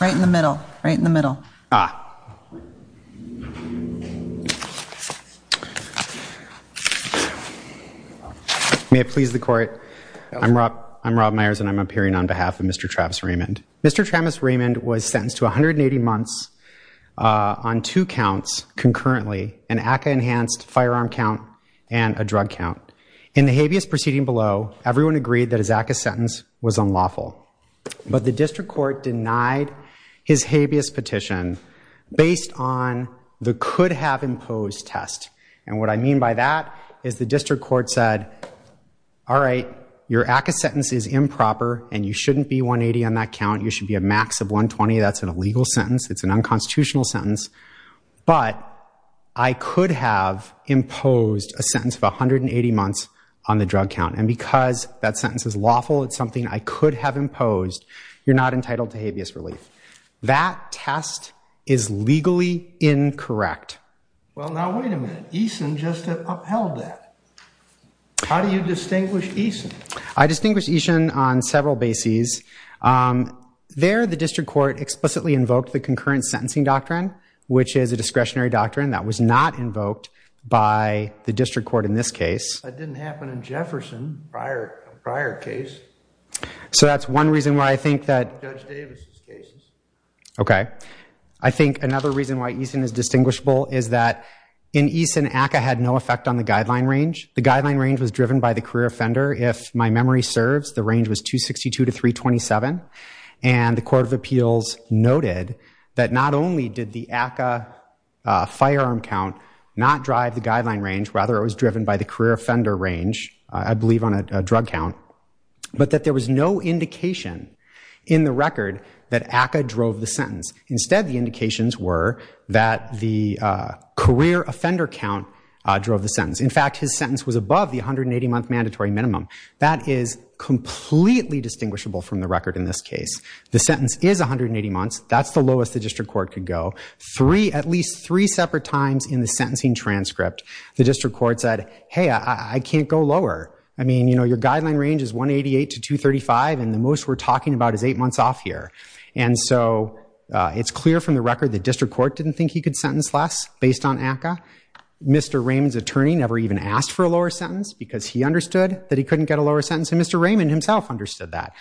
Right in the middle, right in the middle. May it please the court. I'm Rob Meyers and I'm appearing on behalf of Mr. Travis Raymond. Mr. Travis Raymond was sentenced to 180 months on two counts concurrently, an ACA-enhanced firearm count and a drug count. In the habeas proceeding below, everyone agreed that his ACA sentence was unlawful. But the district court denied his habeas petition based on the could-have-imposed test. And what I mean by that is the district court said, all right, your ACA sentence is improper and you shouldn't be 180 on that count. You should be a max of 120. That's an illegal sentence. It's an unconstitutional sentence. But I could have imposed a sentence of 180 months on the drug count. And because that sentence is lawful, it's something I could have imposed, you're not entitled to habeas relief. That test is legally incorrect. Well, now, wait a minute. Eason just upheld that. How do you distinguish Eason? I distinguish Eason on several bases. There, the district court explicitly invoked the concurrent sentencing doctrine, which is a discretionary doctrine that was not invoked by the district court in this case. That didn't happen in Jefferson, a prior case. So that's one reason why I think that. Judge Davis' cases. OK. I think another reason why Eason is distinguishable is that in Eason, ACA had no effect on the guideline range. The guideline range was driven by the career offender. If my memory serves, the range was 262 to 327. And the Court of Appeals noted that not only did the ACA firearm count not drive the guideline range, rather it was driven by the career offender range, I believe on a drug count, but that there was no indication in the record that ACA drove the sentence. Instead, the indications were that the career offender count drove the sentence. In fact, his sentence was above the 180-month mandatory minimum. That is completely distinguishable from the record in this case. The sentence is 180 months. That's the lowest the district court could go. At least three separate times in the sentencing transcript, the district court said, hey, I can't go lower. I mean, your guideline range is 188 to 235, and the most we're talking about is eight months off here. And so it's clear from the record the district court didn't think he could sentence less based on ACA. Mr. Raymond's attorney never even asked for a lower sentence because he understood that he couldn't get a lower sentence, and Mr. Raymond himself understood that.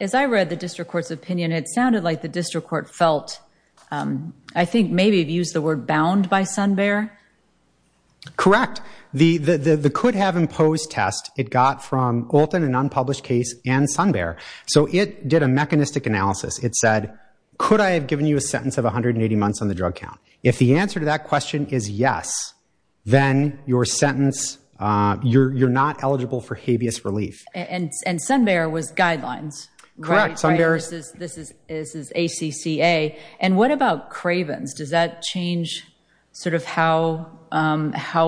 As I read the district court's opinion, it sounded like the district court felt, I think, maybe used the word bound by Sun Bear? Correct. The could have imposed test, it got from Olton, an unpublished case, and Sun Bear. So it did a mechanistic analysis. It said, could I have given you a sentence of 180 months on the drug count? If the answer to that question is yes, then your sentence, you're not eligible for habeas relief. And Sun Bear was guidelines, right? Correct, Sun Bear. This is ACCA. And what about Craven's? Does that change how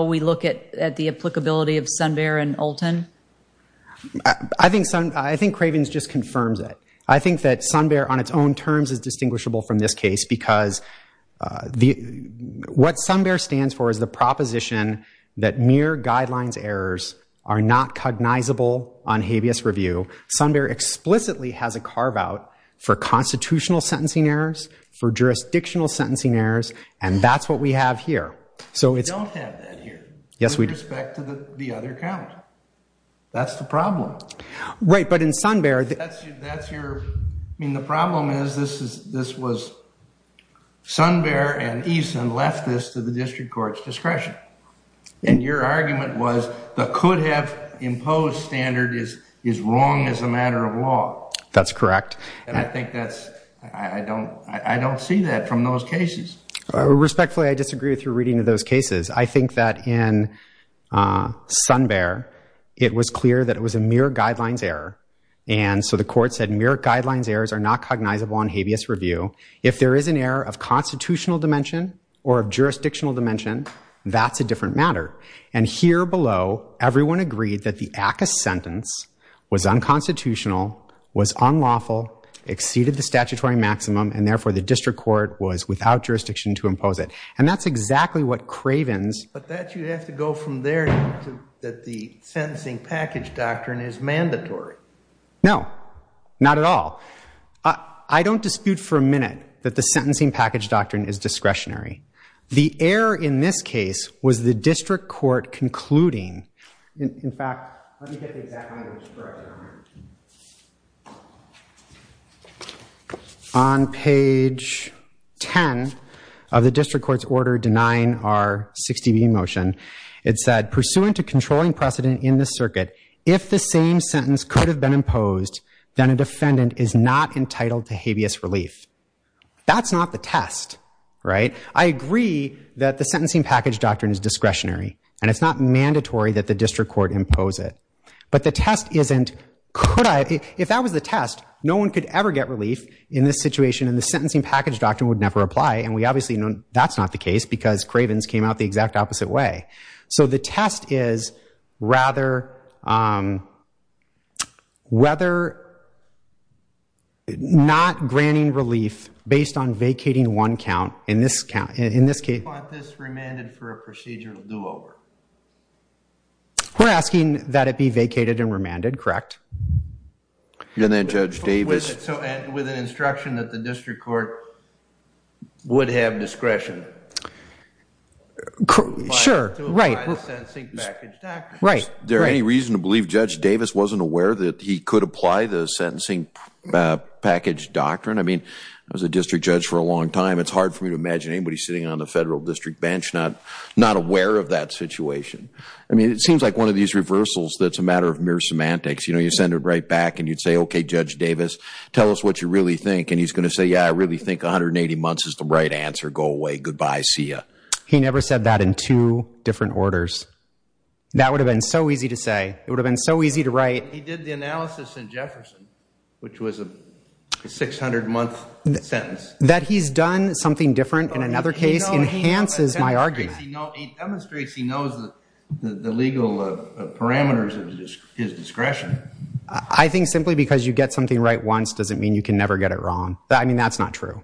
we look at the applicability of Sun Bear and Olton? I think Craven's just confirms it. I think that Sun Bear on its own terms is distinguishable from this case because what Sun Bear stands for is the proposition that mere guidelines errors are not cognizable on habeas review. Sun Bear explicitly has a carve out for constitutional sentencing errors, for jurisdictional sentencing errors, and that's what we have here. So it's- We don't have that here. Yes, we do. With respect to the other count. That's the problem. Right, but in Sun Bear- That's your- I mean, the problem is this was- Sun Bear and Eason left this to the district court's discretion. And your argument was the could have imposed standard is wrong as a matter of law. That's correct. And I think that's- I don't see that from those cases. Respectfully, I disagree with your reading of those cases. I think that in Sun Bear, it was clear that it was a mere guidelines error. And so the court said mere guidelines errors are not cognizable on habeas review. If there is an error of constitutional dimension or of jurisdictional dimension, that's a different matter. And here below, everyone agreed that the ACCA sentence was unconstitutional, was unlawful, exceeded the statutory maximum, and therefore the district court was without jurisdiction to impose it. And that's exactly what Craven's- But that you have to go from there to that the sentencing package doctrine is mandatory. No, not at all. I don't dispute for a minute that the sentencing package doctrine is discretionary. The error in this case was the district court concluding. In fact, let me get the exact language corrected on here. On page 10 of the district court's order denying our 60B motion, it said, pursuant to controlling precedent in this circuit, if the same sentence could have been imposed, then a defendant is not entitled to habeas relief. That's not the test, right? I agree that the sentencing package doctrine is discretionary, and it's not mandatory that the district court impose it. But the test isn't could I- If that was the test, no one could ever get relief in this situation, and the sentencing package doctrine would never apply. And we obviously know that's not the case because Craven's came out the exact opposite way. So the test is rather whether not granting relief based on vacating one count in this case. You want this remanded for a procedural do-over. We're asking that it be vacated and remanded, correct? And then Judge Davis. With an instruction that the district court would have discretion. Sure. Right. To apply the sentencing package doctrine. Right. Is there any reason to believe Judge Davis wasn't aware that he could apply the sentencing package doctrine? I mean, I was a district judge for a long time. It's hard for me to imagine anybody sitting on the federal district bench not aware of that situation. I mean, it seems like one of these reversals that's a matter of mere semantics. You know, you send it right back and you'd say, okay, Judge Davis, tell us what you really think. And he's going to say, yeah, I really think 180 months is the right answer. Go away. Goodbye. See ya. He never said that in two different orders. That would have been so easy to say. It would have been so easy to write. He did the analysis in Jefferson, which was a 600 month sentence. That he's done something different in another case enhances my argument. He demonstrates he knows the legal parameters of his discretion. I think simply because you get something right once doesn't mean you can never get it wrong. I mean, that's not true.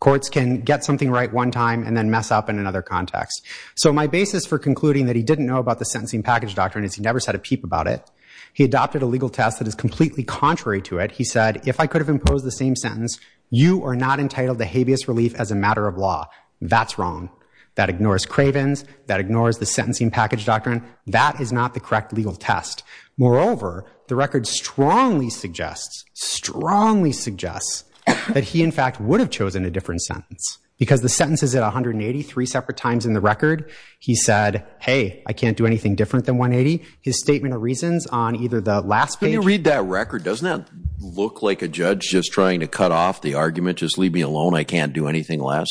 Courts can get something right one time and then mess up in another context. So my basis for concluding that he didn't know about the sentencing package doctrine is he never said a peep about it. He adopted a legal test that is completely contrary to it. He said, if I could have imposed the same sentence, you are not entitled to habeas relief as a matter of law. That's wrong. That ignores Craven's. That ignores the sentencing package doctrine. That is not the correct legal test. Moreover, the record strongly suggests, strongly suggests, that he, in fact, would have chosen a different sentence. Because the sentence is at 180, three separate times in the record. He said, hey, I can't do anything different than 180. His statement of reasons on either the last page. When you read that record, doesn't that look like a judge just trying to cut off the argument, just leave me alone, I can't do anything less?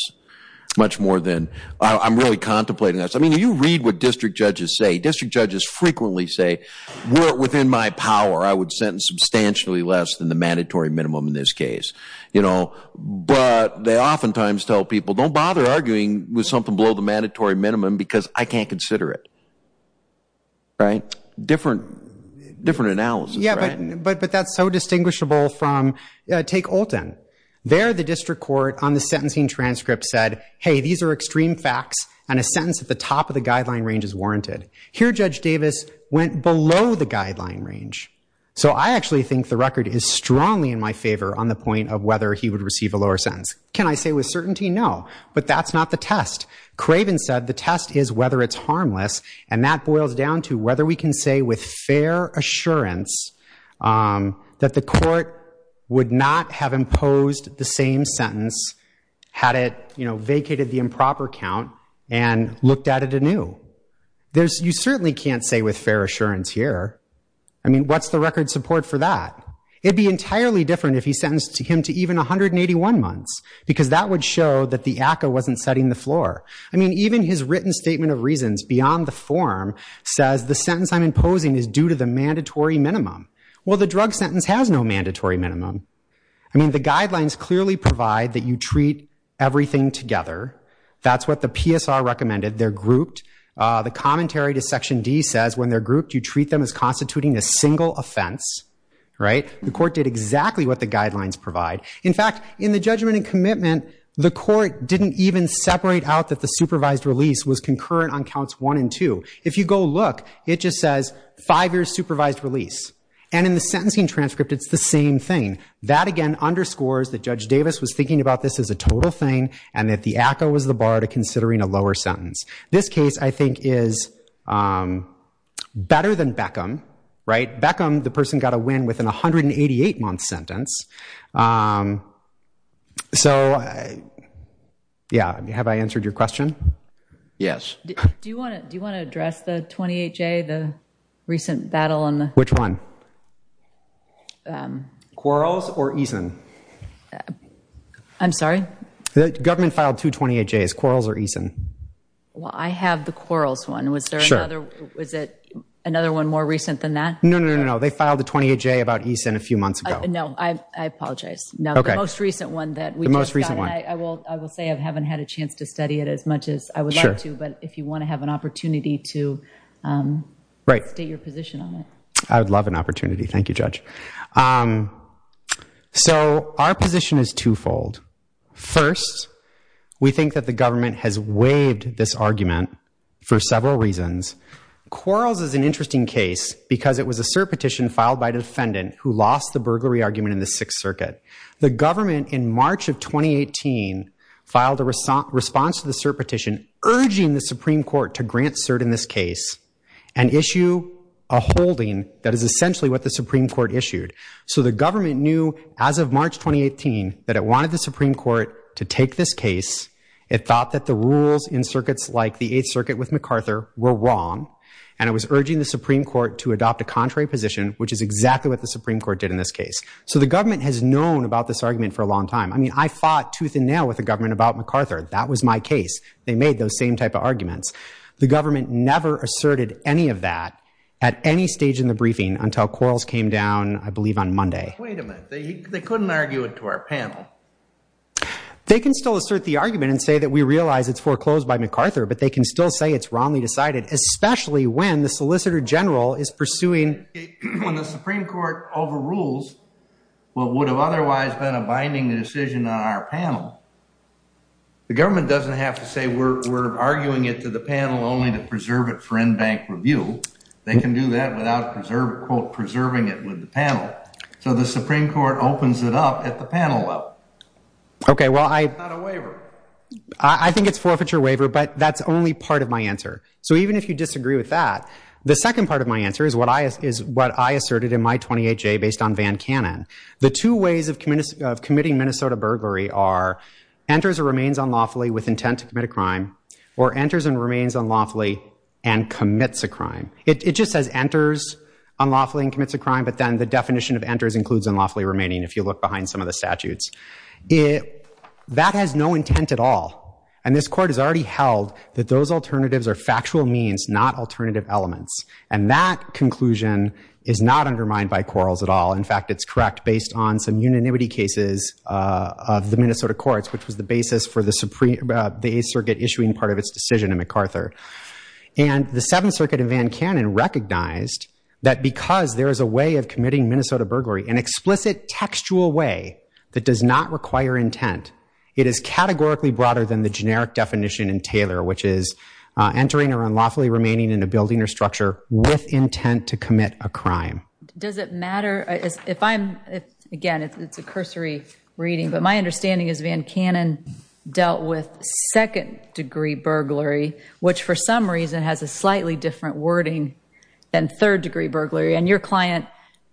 Much more than, I'm really contemplating this. I mean, you read what district judges say. District judges frequently say, were it within my power, I would sentence substantially less than the mandatory minimum in this case. But they oftentimes tell people, don't bother arguing with something below the mandatory minimum, because I can't consider it. Different analysis, right? But that's so distinguishable from, take Olten. There, the district court, on the sentencing transcript, said, hey, these are extreme facts. And a sentence at the top of the guideline range is warranted. Here, Judge Davis went below the guideline range. So I actually think the record is strongly in my favor on the point of whether he would receive a lower sentence. Can I say with certainty? No. But that's not the test. Craven said the test is whether it's harmless. And that boils down to whether we can say with fair assurance that the court would not have imposed the same sentence had it vacated the improper count and looked at it anew. There's, you certainly can't say with fair assurance here. I mean, what's the record support for that? It'd be entirely different if he sentenced him to even 181 months, because that would show that the ACCA wasn't setting the floor. I mean, even his written statement of reasons, beyond the form, says the sentence I'm imposing is due to the mandatory minimum. Well, the drug sentence has no mandatory minimum. I mean, the guidelines clearly provide that you treat everything together. That's what the PSR recommended. They're grouped. The commentary to section D says, when they're grouped, you treat them as constituting a single offense. The court did exactly what the guidelines provide. In fact, in the judgment and commitment, the court didn't even separate out that the supervised release was concurrent on counts one and two. If you go look, it just says five years supervised release. And in the sentencing transcript, it's the same thing. That, again, underscores that Judge Davis was thinking about this as a total thing, and that the ACCA was the bar to considering a lower sentence. This case, I think, is better than Beckham, right? Beckham, the person got a win within a 188-month sentence. So yeah, have I answered your question? Yes. Do you want to address the 28-J, the recent battle on the? Which one? Quarles or Eason? I'm sorry? The government filed two 28-Js. Quarles or Eason? Well, I have the Quarles one. Was there another one more recent than that? No, no, no. They filed a 28-J about Eason a few months ago. No, I apologize. No, the most recent one that we just got, I will say, I haven't had a chance to study it as much as I would like to. But if you want to have an opportunity to state your position on it. I would love an opportunity. Thank you, Judge. So our position is twofold. First, we think that the government has waived this argument for several reasons. Quarles is an interesting case because it was a cert petition filed by a defendant who lost the burglary argument in the Sixth Circuit. The government, in March of 2018, filed a response to the cert petition urging the Supreme Court to grant cert in this case and issue a holding that is essentially what the Supreme Court issued. So the government knew, as of March 2018, that it wanted the Supreme Court to take this case. It thought that the rules in circuits like the Eighth Circuit with MacArthur were wrong. And it was urging the Supreme Court to adopt a contrary position, which is exactly what the Supreme Court did in this case. So the government has known about this argument for a long time. I mean, I fought tooth and nail with the government about MacArthur. That was my case. They made those same type of arguments. The government never asserted any of that at any stage in the briefing until Quarles came down, I believe, on Monday. Wait a minute. They couldn't argue it to our panel. They can still assert the argument and say that we realize it's foreclosed by MacArthur. But they can still say it's wrongly decided, especially when the Solicitor General is pursuing. When the Supreme Court overrules what would have otherwise been a binding decision on our panel, the government doesn't have to say we're arguing it to the panel only to preserve it for in-bank review. They can do that without quote, preserving it with the panel. So the Supreme Court opens it up at the panel level. OK, well, I think it's forfeiture waiver, but that's only part of my answer. So even if you disagree with that, the second part of my answer is what I asserted in my 28-J based on Van Cannon. The two ways of committing Minnesota burglary are enters or remains unlawfully with intent to commit a crime, or enters and remains unlawfully and commits a crime. It just says enters unlawfully and commits a crime, but then the definition of enters includes unlawfully remaining if you look behind some of the statutes. That has no intent at all. And this court has already held that those alternatives are factual means, not alternative elements. And that conclusion is not undermined by quarrels at all. In fact, it's correct based on some unanimity cases of the Minnesota courts, which was the basis for the Eighth Circuit issuing part of its decision in MacArthur. And the Seventh Circuit in Van Cannon recognized that because there is a way of committing Minnesota burglary, an explicit textual way that does not require intent, it is categorically broader than the generic definition in Taylor, which is entering or unlawfully remaining in a building or structure with intent to commit a crime. Does it matter if I'm, again, it's a cursory reading, but my understanding is Van Cannon dealt with second degree burglary, which for some reason has a slightly different wording than third degree burglary. And your client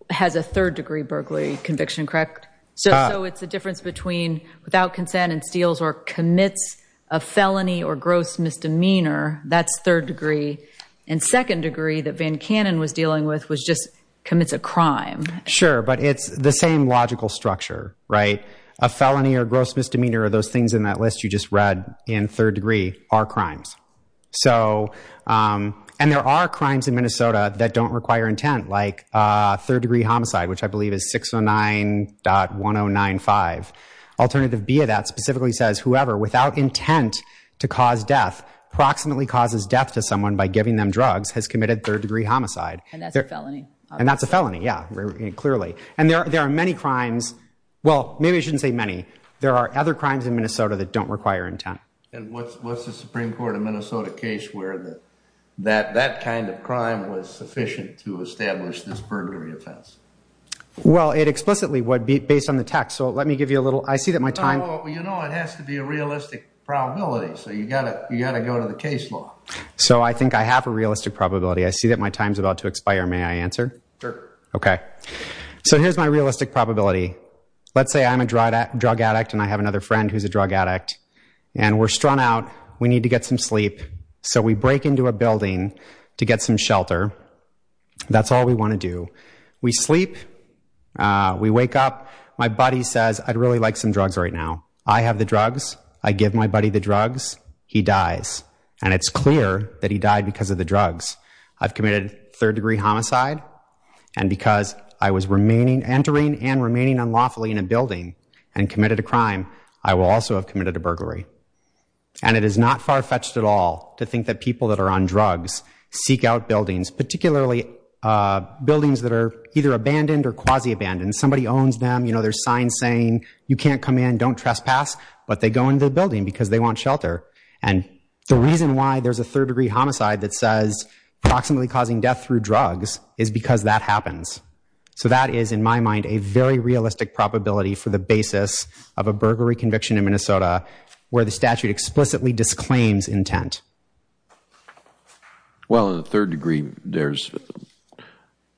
has a third degree burglary conviction, correct? So it's the difference between without consent and steals or commits a felony or gross misdemeanor. That's third degree. And second degree that Van Cannon was dealing with was just commits a crime. Sure, but it's the same logical structure, right? A felony or gross misdemeanor or those things in that list you just read in third degree are crimes. So and there are crimes in Minnesota that don't require intent, like third degree homicide, which I believe is 609.1095. Alternative B of that specifically says whoever without intent to cause death proximately causes death to someone by giving them drugs has committed third degree homicide. And that's a felony. And that's a felony, yeah, clearly. And there are many crimes. Well, maybe I shouldn't say many. There are other crimes in Minnesota that don't require intent. And what's the Supreme Court of Minnesota case where that kind of crime was sufficient to establish this burglary offense? Well, it explicitly would be based on the text. So let me give you a little. I see that my time. Well, you know, it has to be a realistic probability. So you've got to go to the case law. So I think I have a realistic probability. I see that my time's about to expire. May I answer? Sure. OK. So here's my realistic probability. Let's say I'm a drug addict. And I have another friend who's a drug addict. And we're strung out. We need to get some sleep. So we break into a building to get some shelter. That's all we want to do. We sleep. We wake up. My buddy says, I'd really like some drugs right now. I have the drugs. I give my buddy the drugs. He dies. And it's clear that he died because of the drugs. I've committed third degree homicide. And because I was entering and remaining unlawfully in a building and committed a crime, I will also have committed a burglary. And it is not far-fetched at all to think that people that are on drugs seek out buildings, particularly buildings that are either abandoned or quasi-abandoned. Somebody owns them. There's signs saying, you can't come in. Don't trespass. But they go into the building because they want shelter. And the reason why there's a third degree homicide that says approximately causing death through drugs is because that happens. So that is, in my mind, a very realistic probability for the basis of a burglary conviction in Minnesota where the statute explicitly disclaims intent. Well, in the third degree, there's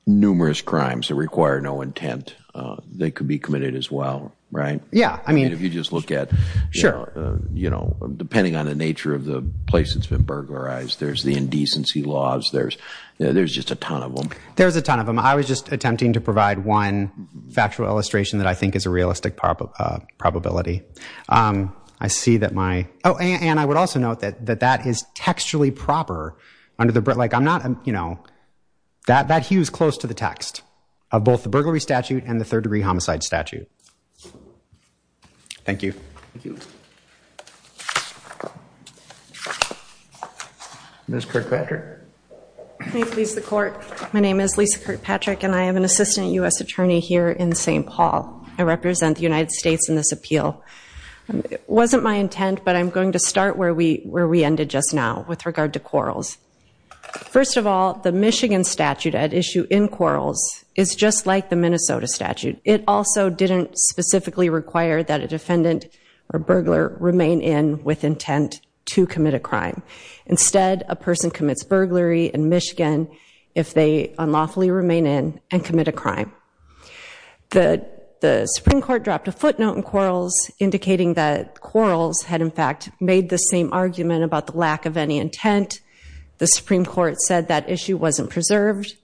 numerous crimes that require no intent that could be committed as well, right? Yeah, I mean, if you just look at, depending on the nature of the place that's been burglarized, there's the indecency laws. There's just a ton of them. There's a ton of them. I was just attempting to provide one factual illustration that I think is a realistic probability. I see that my, oh, and I would also note that that is textually proper under the, like, I'm not, you know, that hews close to the text of both the burglary statute and the third degree homicide statute. Thank you. Thank you. Ms. Kirkpatrick. May it please the court, my name is Lisa Kirkpatrick. And I am an assistant US attorney here in St. Paul. I represent the United States in this appeal. It wasn't my intent, but I'm going to start where we ended just now with regard to quarrels. First of all, the Michigan statute at issue in quarrels is just like the Minnesota statute. It also didn't specifically require that a defendant or burglar remain in with intent to commit a crime. Instead, a person commits burglary in Michigan if they unlawfully remain in and commit a crime. The Supreme Court dropped a footnote in quarrels indicating that quarrels had, in fact, made the same argument about the lack of any intent. The Supreme Court said that issue wasn't preserved.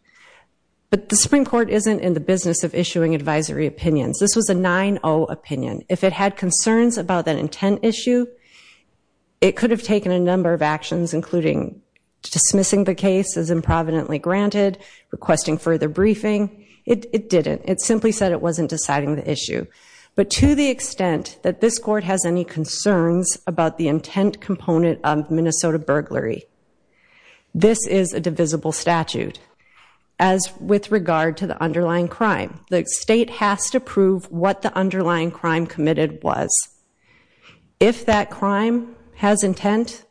But the Supreme Court isn't in the business of issuing advisory opinions. This was a 9-0 opinion. it could have taken a number of actions, including dismissing the case as improvidently granted, requesting further briefing. It didn't. It simply said it wasn't deciding the issue. But to the extent that this court has any concerns about the intent component of Minnesota burglary, this is a divisible statute. As with regard to the underlying crime, the state has to prove what the underlying crime committed was. If that crime has intent,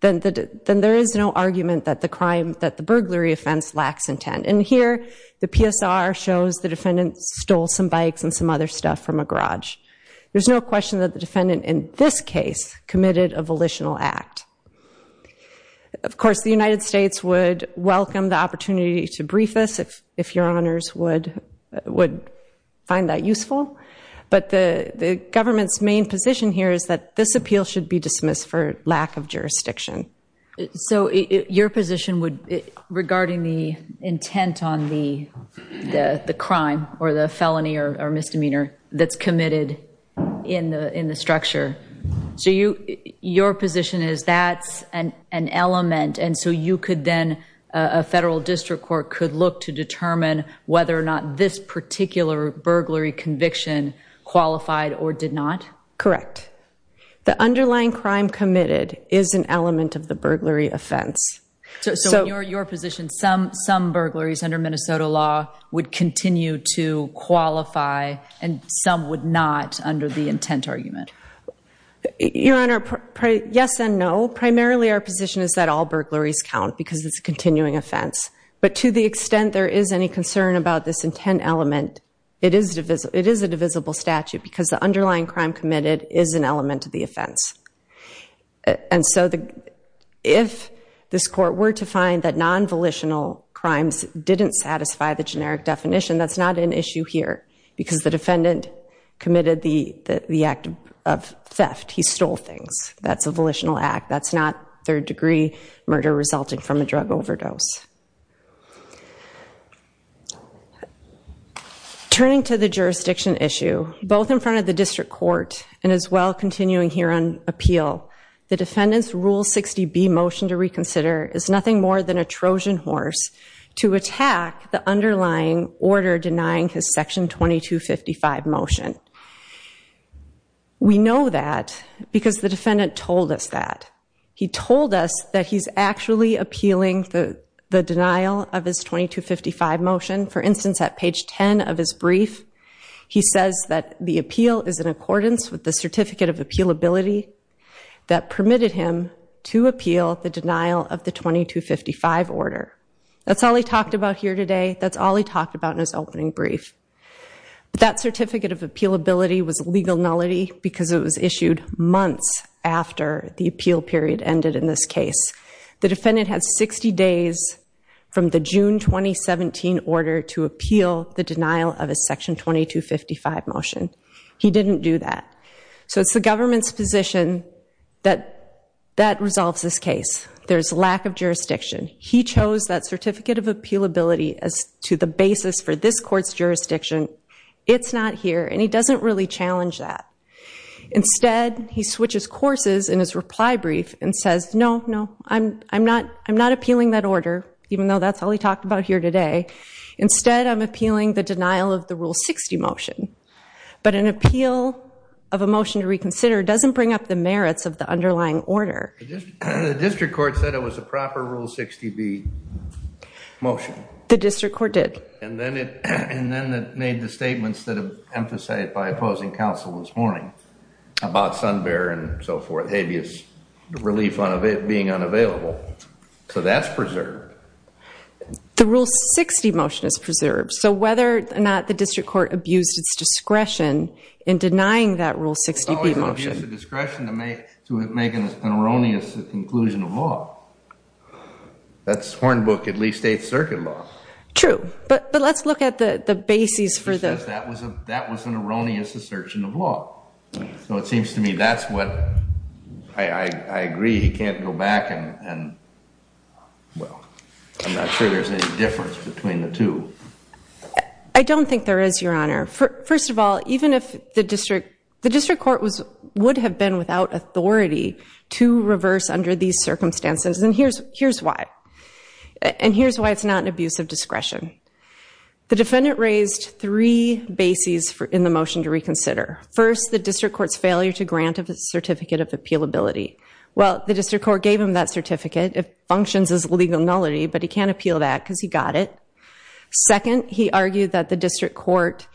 then there is no argument that the burglary offense lacks intent. And here, the PSR shows the defendant stole some bikes and some other stuff from a garage. There's no question that the defendant in this case committed a volitional act. Of course, the United States would welcome the opportunity to brief us, if your honors would find that useful. But the government's main position here is that this appeal should be dismissed for lack of jurisdiction. So your position would, regarding the intent on the crime or the felony or misdemeanor that's committed in the structure, so your position is that's an element. And so you could then, a federal district court could look to determine whether or not this particular burglary conviction qualified or did not? Correct. The underlying crime committed is an element of the burglary offense. So in your position, some burglaries under Minnesota law would continue to qualify, and some would not under the intent argument. Your honor, yes and no. Primarily, our position is that all burglaries count, because it's a continuing offense. But to the extent there is any concern about this intent element, it is a divisible statute, because the underlying crime committed is an element of the offense. And so if this court were to find that non-volitional crimes didn't satisfy the generic definition, that's not an issue here, because the defendant committed the act of theft. He stole things. That's a volitional act. That's not third degree murder resulting from a drug overdose. Turning to the jurisdiction issue, both in front of the district court and as well continuing here on appeal, the defendant's Rule 60B motion to reconsider is nothing more than a Trojan horse to attack the underlying order denying his Section 2255 motion. We know that, because the defendant told us that. He told us that he's actually appealing the denial of his 2255 motion. For instance, at page 10 of his brief, he says that the appeal is in accordance with the certificate of appealability that permitted him to appeal the denial of the 2255 order. That's all he talked about here today. That's all he talked about in his opening brief. That certificate of appealability was legal nullity, because it was issued months after the appeal period ended in this case. The defendant had 60 days from the June 2017 order to appeal the denial of his Section 2255 motion. He didn't do that. So it's the government's position that that resolves this case. There's lack of jurisdiction. He chose that certificate of appealability as to the basis for this court's jurisdiction. It's not here. And he doesn't really challenge that. Instead, he switches courses in his reply brief and says, no, no, I'm not appealing that order, even though that's all he talked about here today. Instead, I'm appealing the denial of the Rule 60 motion. But an appeal of a motion to reconsider doesn't bring up the merits of the underlying order. The district court said it was a proper Rule 60b motion. The district court did. And then it made the statements that have emphasized by opposing counsel this morning about Sunbear and so forth. The relief of it being unavailable. So that's preserved. The Rule 60 motion is preserved. So whether or not the district court abused its discretion in denying that Rule 60b motion. It's always an abuse of discretion to make an erroneous conclusion of law. That's Hornbook, at least, Eighth Circuit law. True. But let's look at the basis for this. That was an erroneous assertion of law. So it seems to me that's what, I agree, he can't go back. And well, I'm not sure there's any difference between the two. I don't think there is, Your Honor. First of all, even if the district court would have been without authority to reverse under these circumstances. And here's why. And here's why it's not an abuse of discretion. The defendant raised three bases in the motion to reconsider. First, the district court's failure to grant a certificate of appealability. Well, the district court gave him that certificate. It functions as legal nullity. But he can't appeal that because he got it. Second, he argued that the district court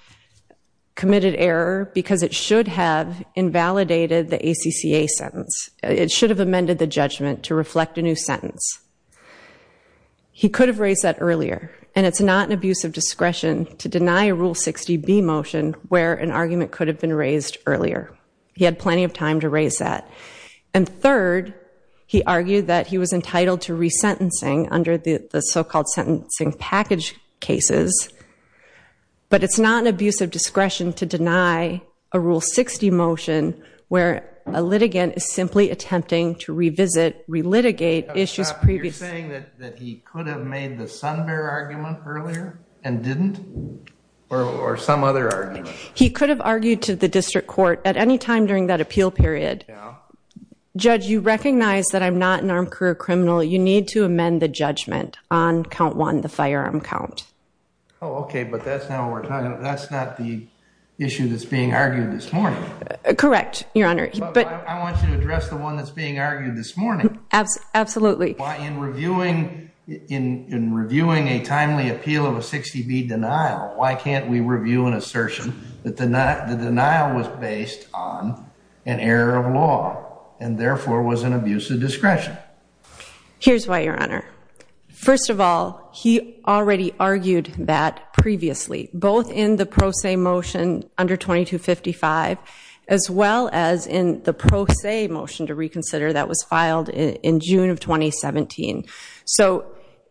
committed error because it should have invalidated the ACCA sentence. It should have amended the judgment to reflect a new sentence. He could have raised that earlier. And it's not an abuse of discretion to deny a Rule 60b motion where an argument could have been raised earlier. He had plenty of time to raise that. And third, he argued that he was entitled to resentencing under the so-called sentencing package cases. But it's not an abuse of discretion to deny a Rule 60 motion where a litigant is simply attempting to revisit, relitigate issues previously. You're saying that he could have made the Sunbear argument earlier and didn't? Or some other argument? He could have argued to the district court at any time during that appeal period. Judge, you recognize that I'm not an armed career criminal. You need to amend the judgment on count one, the firearm count. Oh, OK, but that's not the issue that's being argued this morning. Correct, Your Honor. But I want you to address the one that's being argued this morning. Absolutely. In reviewing a timely appeal of a 60b denial, why can't we review an assertion that the denial was based on an error of law, and therefore was an abuse of discretion? Here's why, Your Honor. First of all, he already argued that previously, both in the pro se motion under 2255, as well as in the pro se motion to reconsider that was filed in June of 2017. So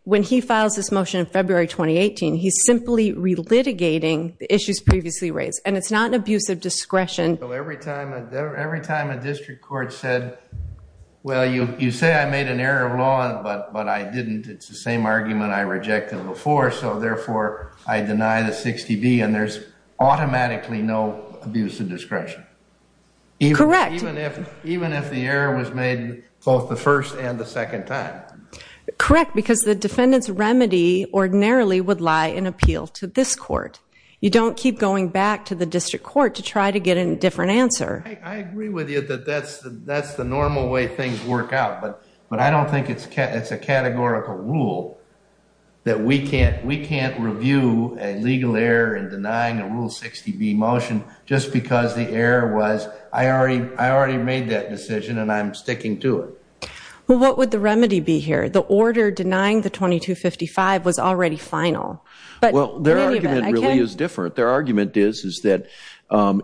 when he files this motion in February 2018, he's simply relitigating the issues previously raised. And it's not an abuse of discretion. Every time a district court said, well, you say I made an error of law, but I didn't. It's the same argument I rejected before. So therefore, I deny the 60b. And there's automatically no abuse of discretion. Correct. Even if the error was made both the first and the second time. Correct, because the defendant's remedy ordinarily would lie in appeal to this court. You don't keep going back to the district court to try to get a different answer. I agree with you that that's the normal way things work out. But I don't think it's a categorical rule that we can't review a legal error in denying a Rule 60b motion just because the error was I already made that decision, and I'm sticking to it. Well, what would the remedy be here? The order denying the 2255 was already final. Well, their argument really is different. Their argument is that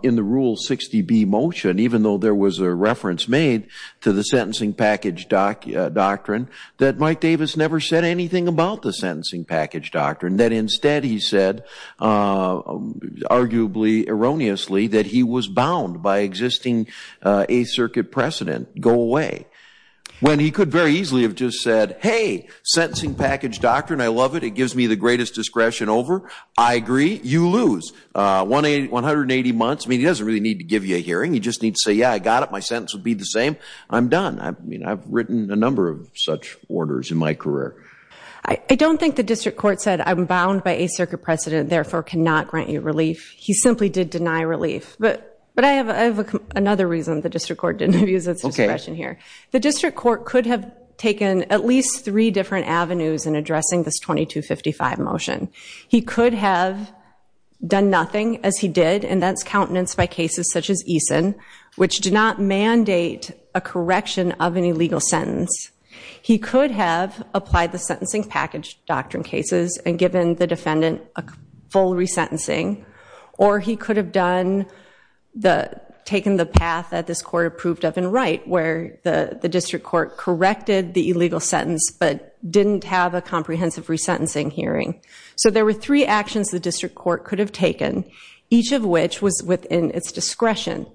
in the Rule 60b motion, even though there was a reference made to the sentencing package doctrine, that Mike Davis never said anything about the sentencing package doctrine. That instead he said, arguably erroneously, that he was bound by existing Eighth Circuit precedent, go away. When he could very easily have just said, hey, sentencing package doctrine, I love it. It gives me the greatest discretion over. I agree. You lose. 180 months, I mean, he doesn't really need to give you a hearing. You just need to say, yeah, I got it. My sentence would be the same. I'm done. I've written a number of such orders in my career. I don't think the district court said I'm bound by Eighth Circuit precedent, therefore cannot grant you relief. He simply did deny relief. But I have another reason the district court didn't use its discretion here. The district court could have taken at least three different avenues in addressing this 2255 motion. He could have done nothing, as he did, and that's countenance by cases such as Eason, which did not mandate a correction of an illegal sentence. He could have applied the sentencing package doctrine cases and given the defendant a full resentencing. Or he could have taken the path that this court approved of and right, where the district court corrected the illegal sentence but didn't have a comprehensive resentencing hearing. So there were three actions the district court could have taken, each of which was within its discretion.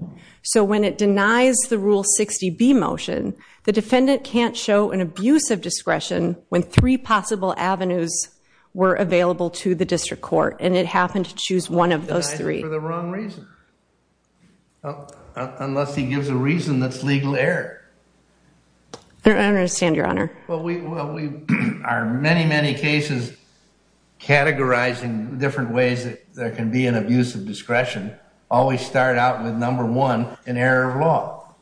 So when it denies the Rule 60B motion, the defendant can't show an abuse of discretion when three possible avenues were available to the district court, and it happened to choose one of those three. Denied it for the wrong reason. Well, unless he gives a reason that's legal error. I understand, Your Honor. Well, we are many, many cases categorizing different ways that there can be an abuse of discretion. Always start out with number one, an error of law.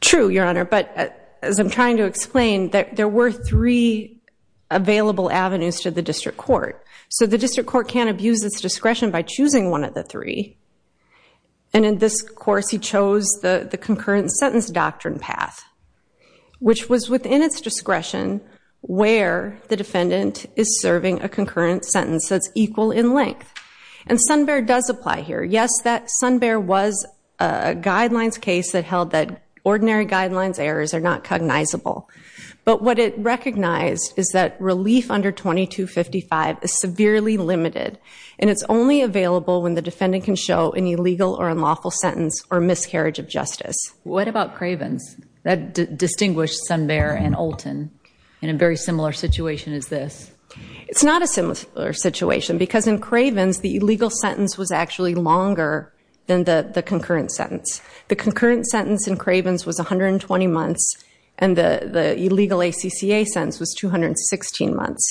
True, Your Honor, but as I'm trying to explain, there were three available avenues to the district court. So the district court can't abuse its discretion by choosing one of the three. And in this course, he chose the concurrent sentence doctrine path, which was within its discretion where the defendant is serving a concurrent sentence that's equal in length. And Sun Bear does apply here. Yes, that Sun Bear was a guidelines case that held that ordinary guidelines errors are not cognizable. But what it recognized is that relief under 2255 is severely limited. And it's only available when the defendant can show an illegal or unlawful sentence or miscarriage of justice. What about Cravens? That distinguished Sun Bear and Olten in a very similar situation as this. It's not a similar situation because in Cravens, the illegal sentence was actually longer than the concurrent sentence. The concurrent sentence in Cravens was 120 months, and the illegal ACCA sentence was 216 months.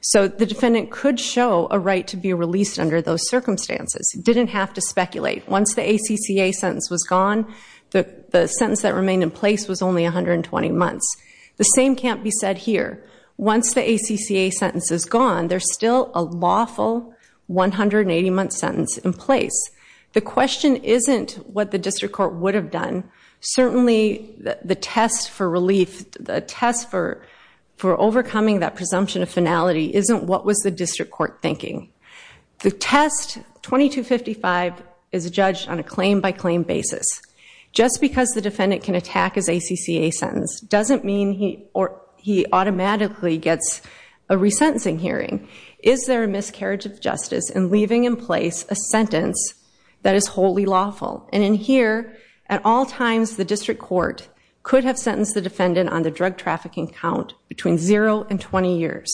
So the defendant could show a right to be released under those circumstances, didn't have to speculate. Once the ACCA sentence was gone, the sentence that remained in place was only 120 months. The same can't be said here. Once the ACCA sentence is gone, there's still a lawful 180-month sentence in place. The question isn't what the district court would have done. Certainly, the test for relief, the test for overcoming that presumption of finality isn't what was the district court thinking. The test 2255 is judged on a claim-by-claim basis. Just because the defendant can attack his ACCA sentence doesn't mean he automatically gets a resentencing hearing. Is there a miscarriage of justice in leaving in place a sentence that is wholly lawful? And in here, at all times, the district court could have sentenced the defendant on the drug trafficking count between 0 and 20 years.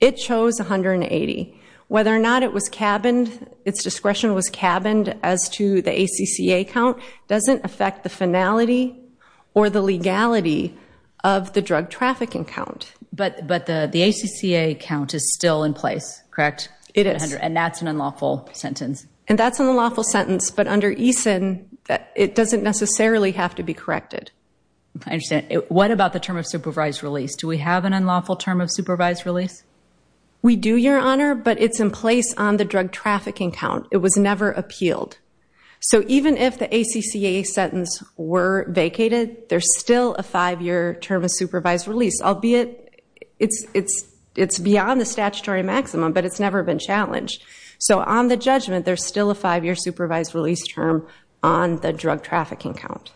It chose 180. Whether or not it was cabined, its discretion was cabined as to the ACCA count doesn't affect the finality or the legality of the drug trafficking count. But the ACCA count is still in place, correct? It is. And that's an unlawful sentence. And that's an unlawful sentence. But under EASIN, it doesn't necessarily have to be corrected. I understand. What about the term of supervised release? Do we have an unlawful term of supervised release? We do, Your Honor. But it's in place on the drug trafficking count. It was never appealed. So even if the ACCA sentence were vacated, there's still a five-year term of supervised release, albeit it's beyond the statutory maximum, but it's never been challenged. So on the judgment, there's still a five-year supervised release term on the drug trafficking count.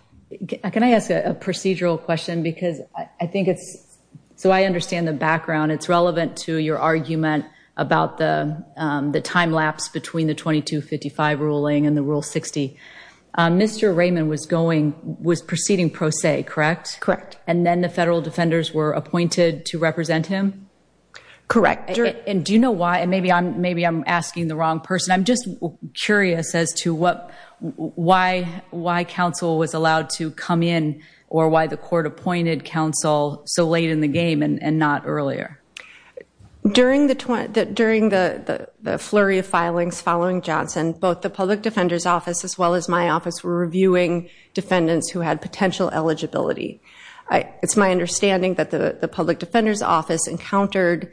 Can I ask a procedural question? Because I think it's, so I understand the background. It's relevant to your argument about the time lapse between the 2255 ruling and the Rule 60. Mr. Raymond was proceeding pro se, correct? Correct. And then the federal defenders were appointed to represent him? Correct. And do you know why? And maybe I'm asking the wrong person. I'm just curious as to why counsel was allowed to come in or why the court appointed counsel so late in the game and not earlier. During the flurry of filings following Johnson, both the Public Defender's Office as well as my office were reviewing defendants who had potential eligibility. It's my understanding that the Public Defender's Office encountered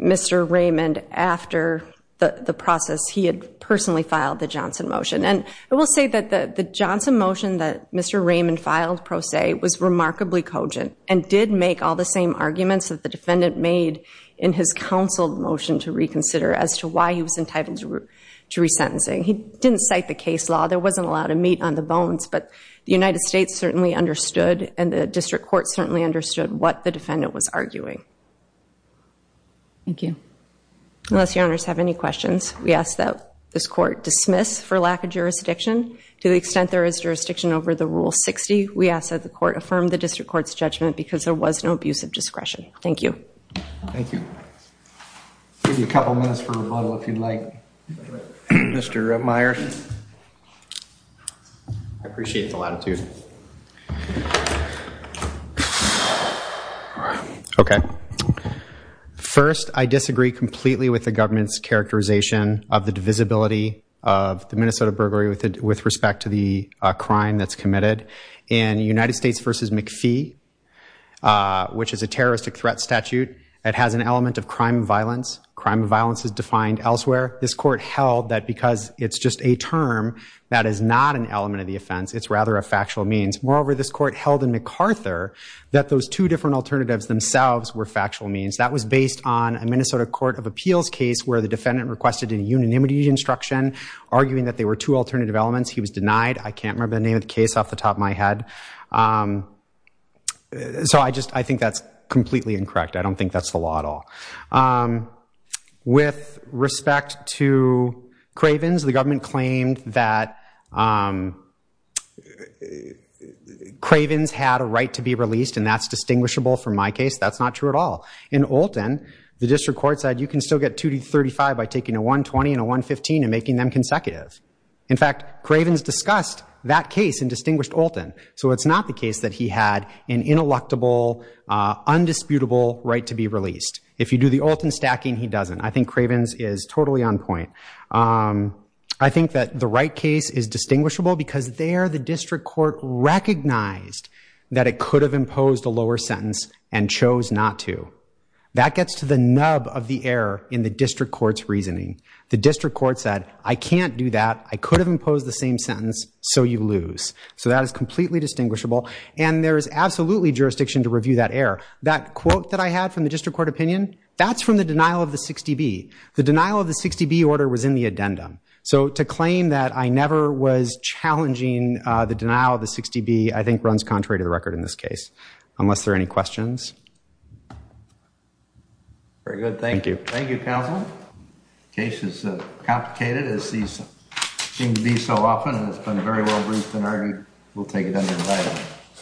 Mr. Raymond after the process. He had personally filed the Johnson motion. And I will say that the Johnson motion that Mr. Raymond filed pro se was remarkably cogent and did make all the same arguments that the defendant made in his counsel motion to reconsider as to why he was entitled to resentencing. He didn't cite the case law. There wasn't a lot of meat on the bones. But the United States certainly understood, and the district court certainly understood what the defendant was arguing. Thank you. Unless your honors have any questions, we ask that this court dismiss for lack of jurisdiction. To the extent there is jurisdiction over the Rule 60, we ask that the court affirm the district court's judgment because there was no abuse of discretion. Thank you. Thank you. I'll give you a couple minutes for rebuttal if you'd like. Mr. Meyers. I appreciate the latitude. OK. First, I disagree completely with the government's characterization of the divisibility of the Minnesota burglary with respect to the crime that's committed. In United States versus McPhee, which is a terroristic threat statute, it has an element of crime and violence. Crime and violence is defined elsewhere. This court held that because it's just a term that is not an element of the offense, it's rather a factual means. Moreover, this court held in MacArthur that those two different alternatives themselves were factual means. That was based on a Minnesota Court of Appeals case where the defendant requested a unanimity instruction, arguing that they were two alternative elements. He was denied. I can't remember the name of the case off the top of my head. So I think that's completely incorrect. I don't think that's the law at all. With respect to Cravens, the government And that's distinguishable from my case. That's not true at all. In Olten, the district court said, you can still get 235 by taking a 120 and a 115 and making them consecutive. In fact, Cravens discussed that case in Distinguished Olten. So it's not the case that he had an ineluctable, undisputable right to be released. If you do the Olten stacking, he doesn't. I think Cravens is totally on point. I think that the Wright case is distinguishable because there the district court recognized that it could have imposed a lower sentence and chose not to. That gets to the nub of the error in the district court's reasoning. The district court said, I can't do that. I could have imposed the same sentence, so you lose. So that is completely distinguishable. And there is absolutely jurisdiction to review that error. That quote that I had from the district court opinion, that's from the denial of the 60B. The denial of the 60B order was in the addendum. So to claim that I never was challenging the denial of the 60B, I think, runs contrary to the record in this case, unless there are any questions. Very good. Thank you. Thank you, counsel. Case is complicated, as these seem to be so often. And it's been very well-briefed and argued. We'll take it under the light.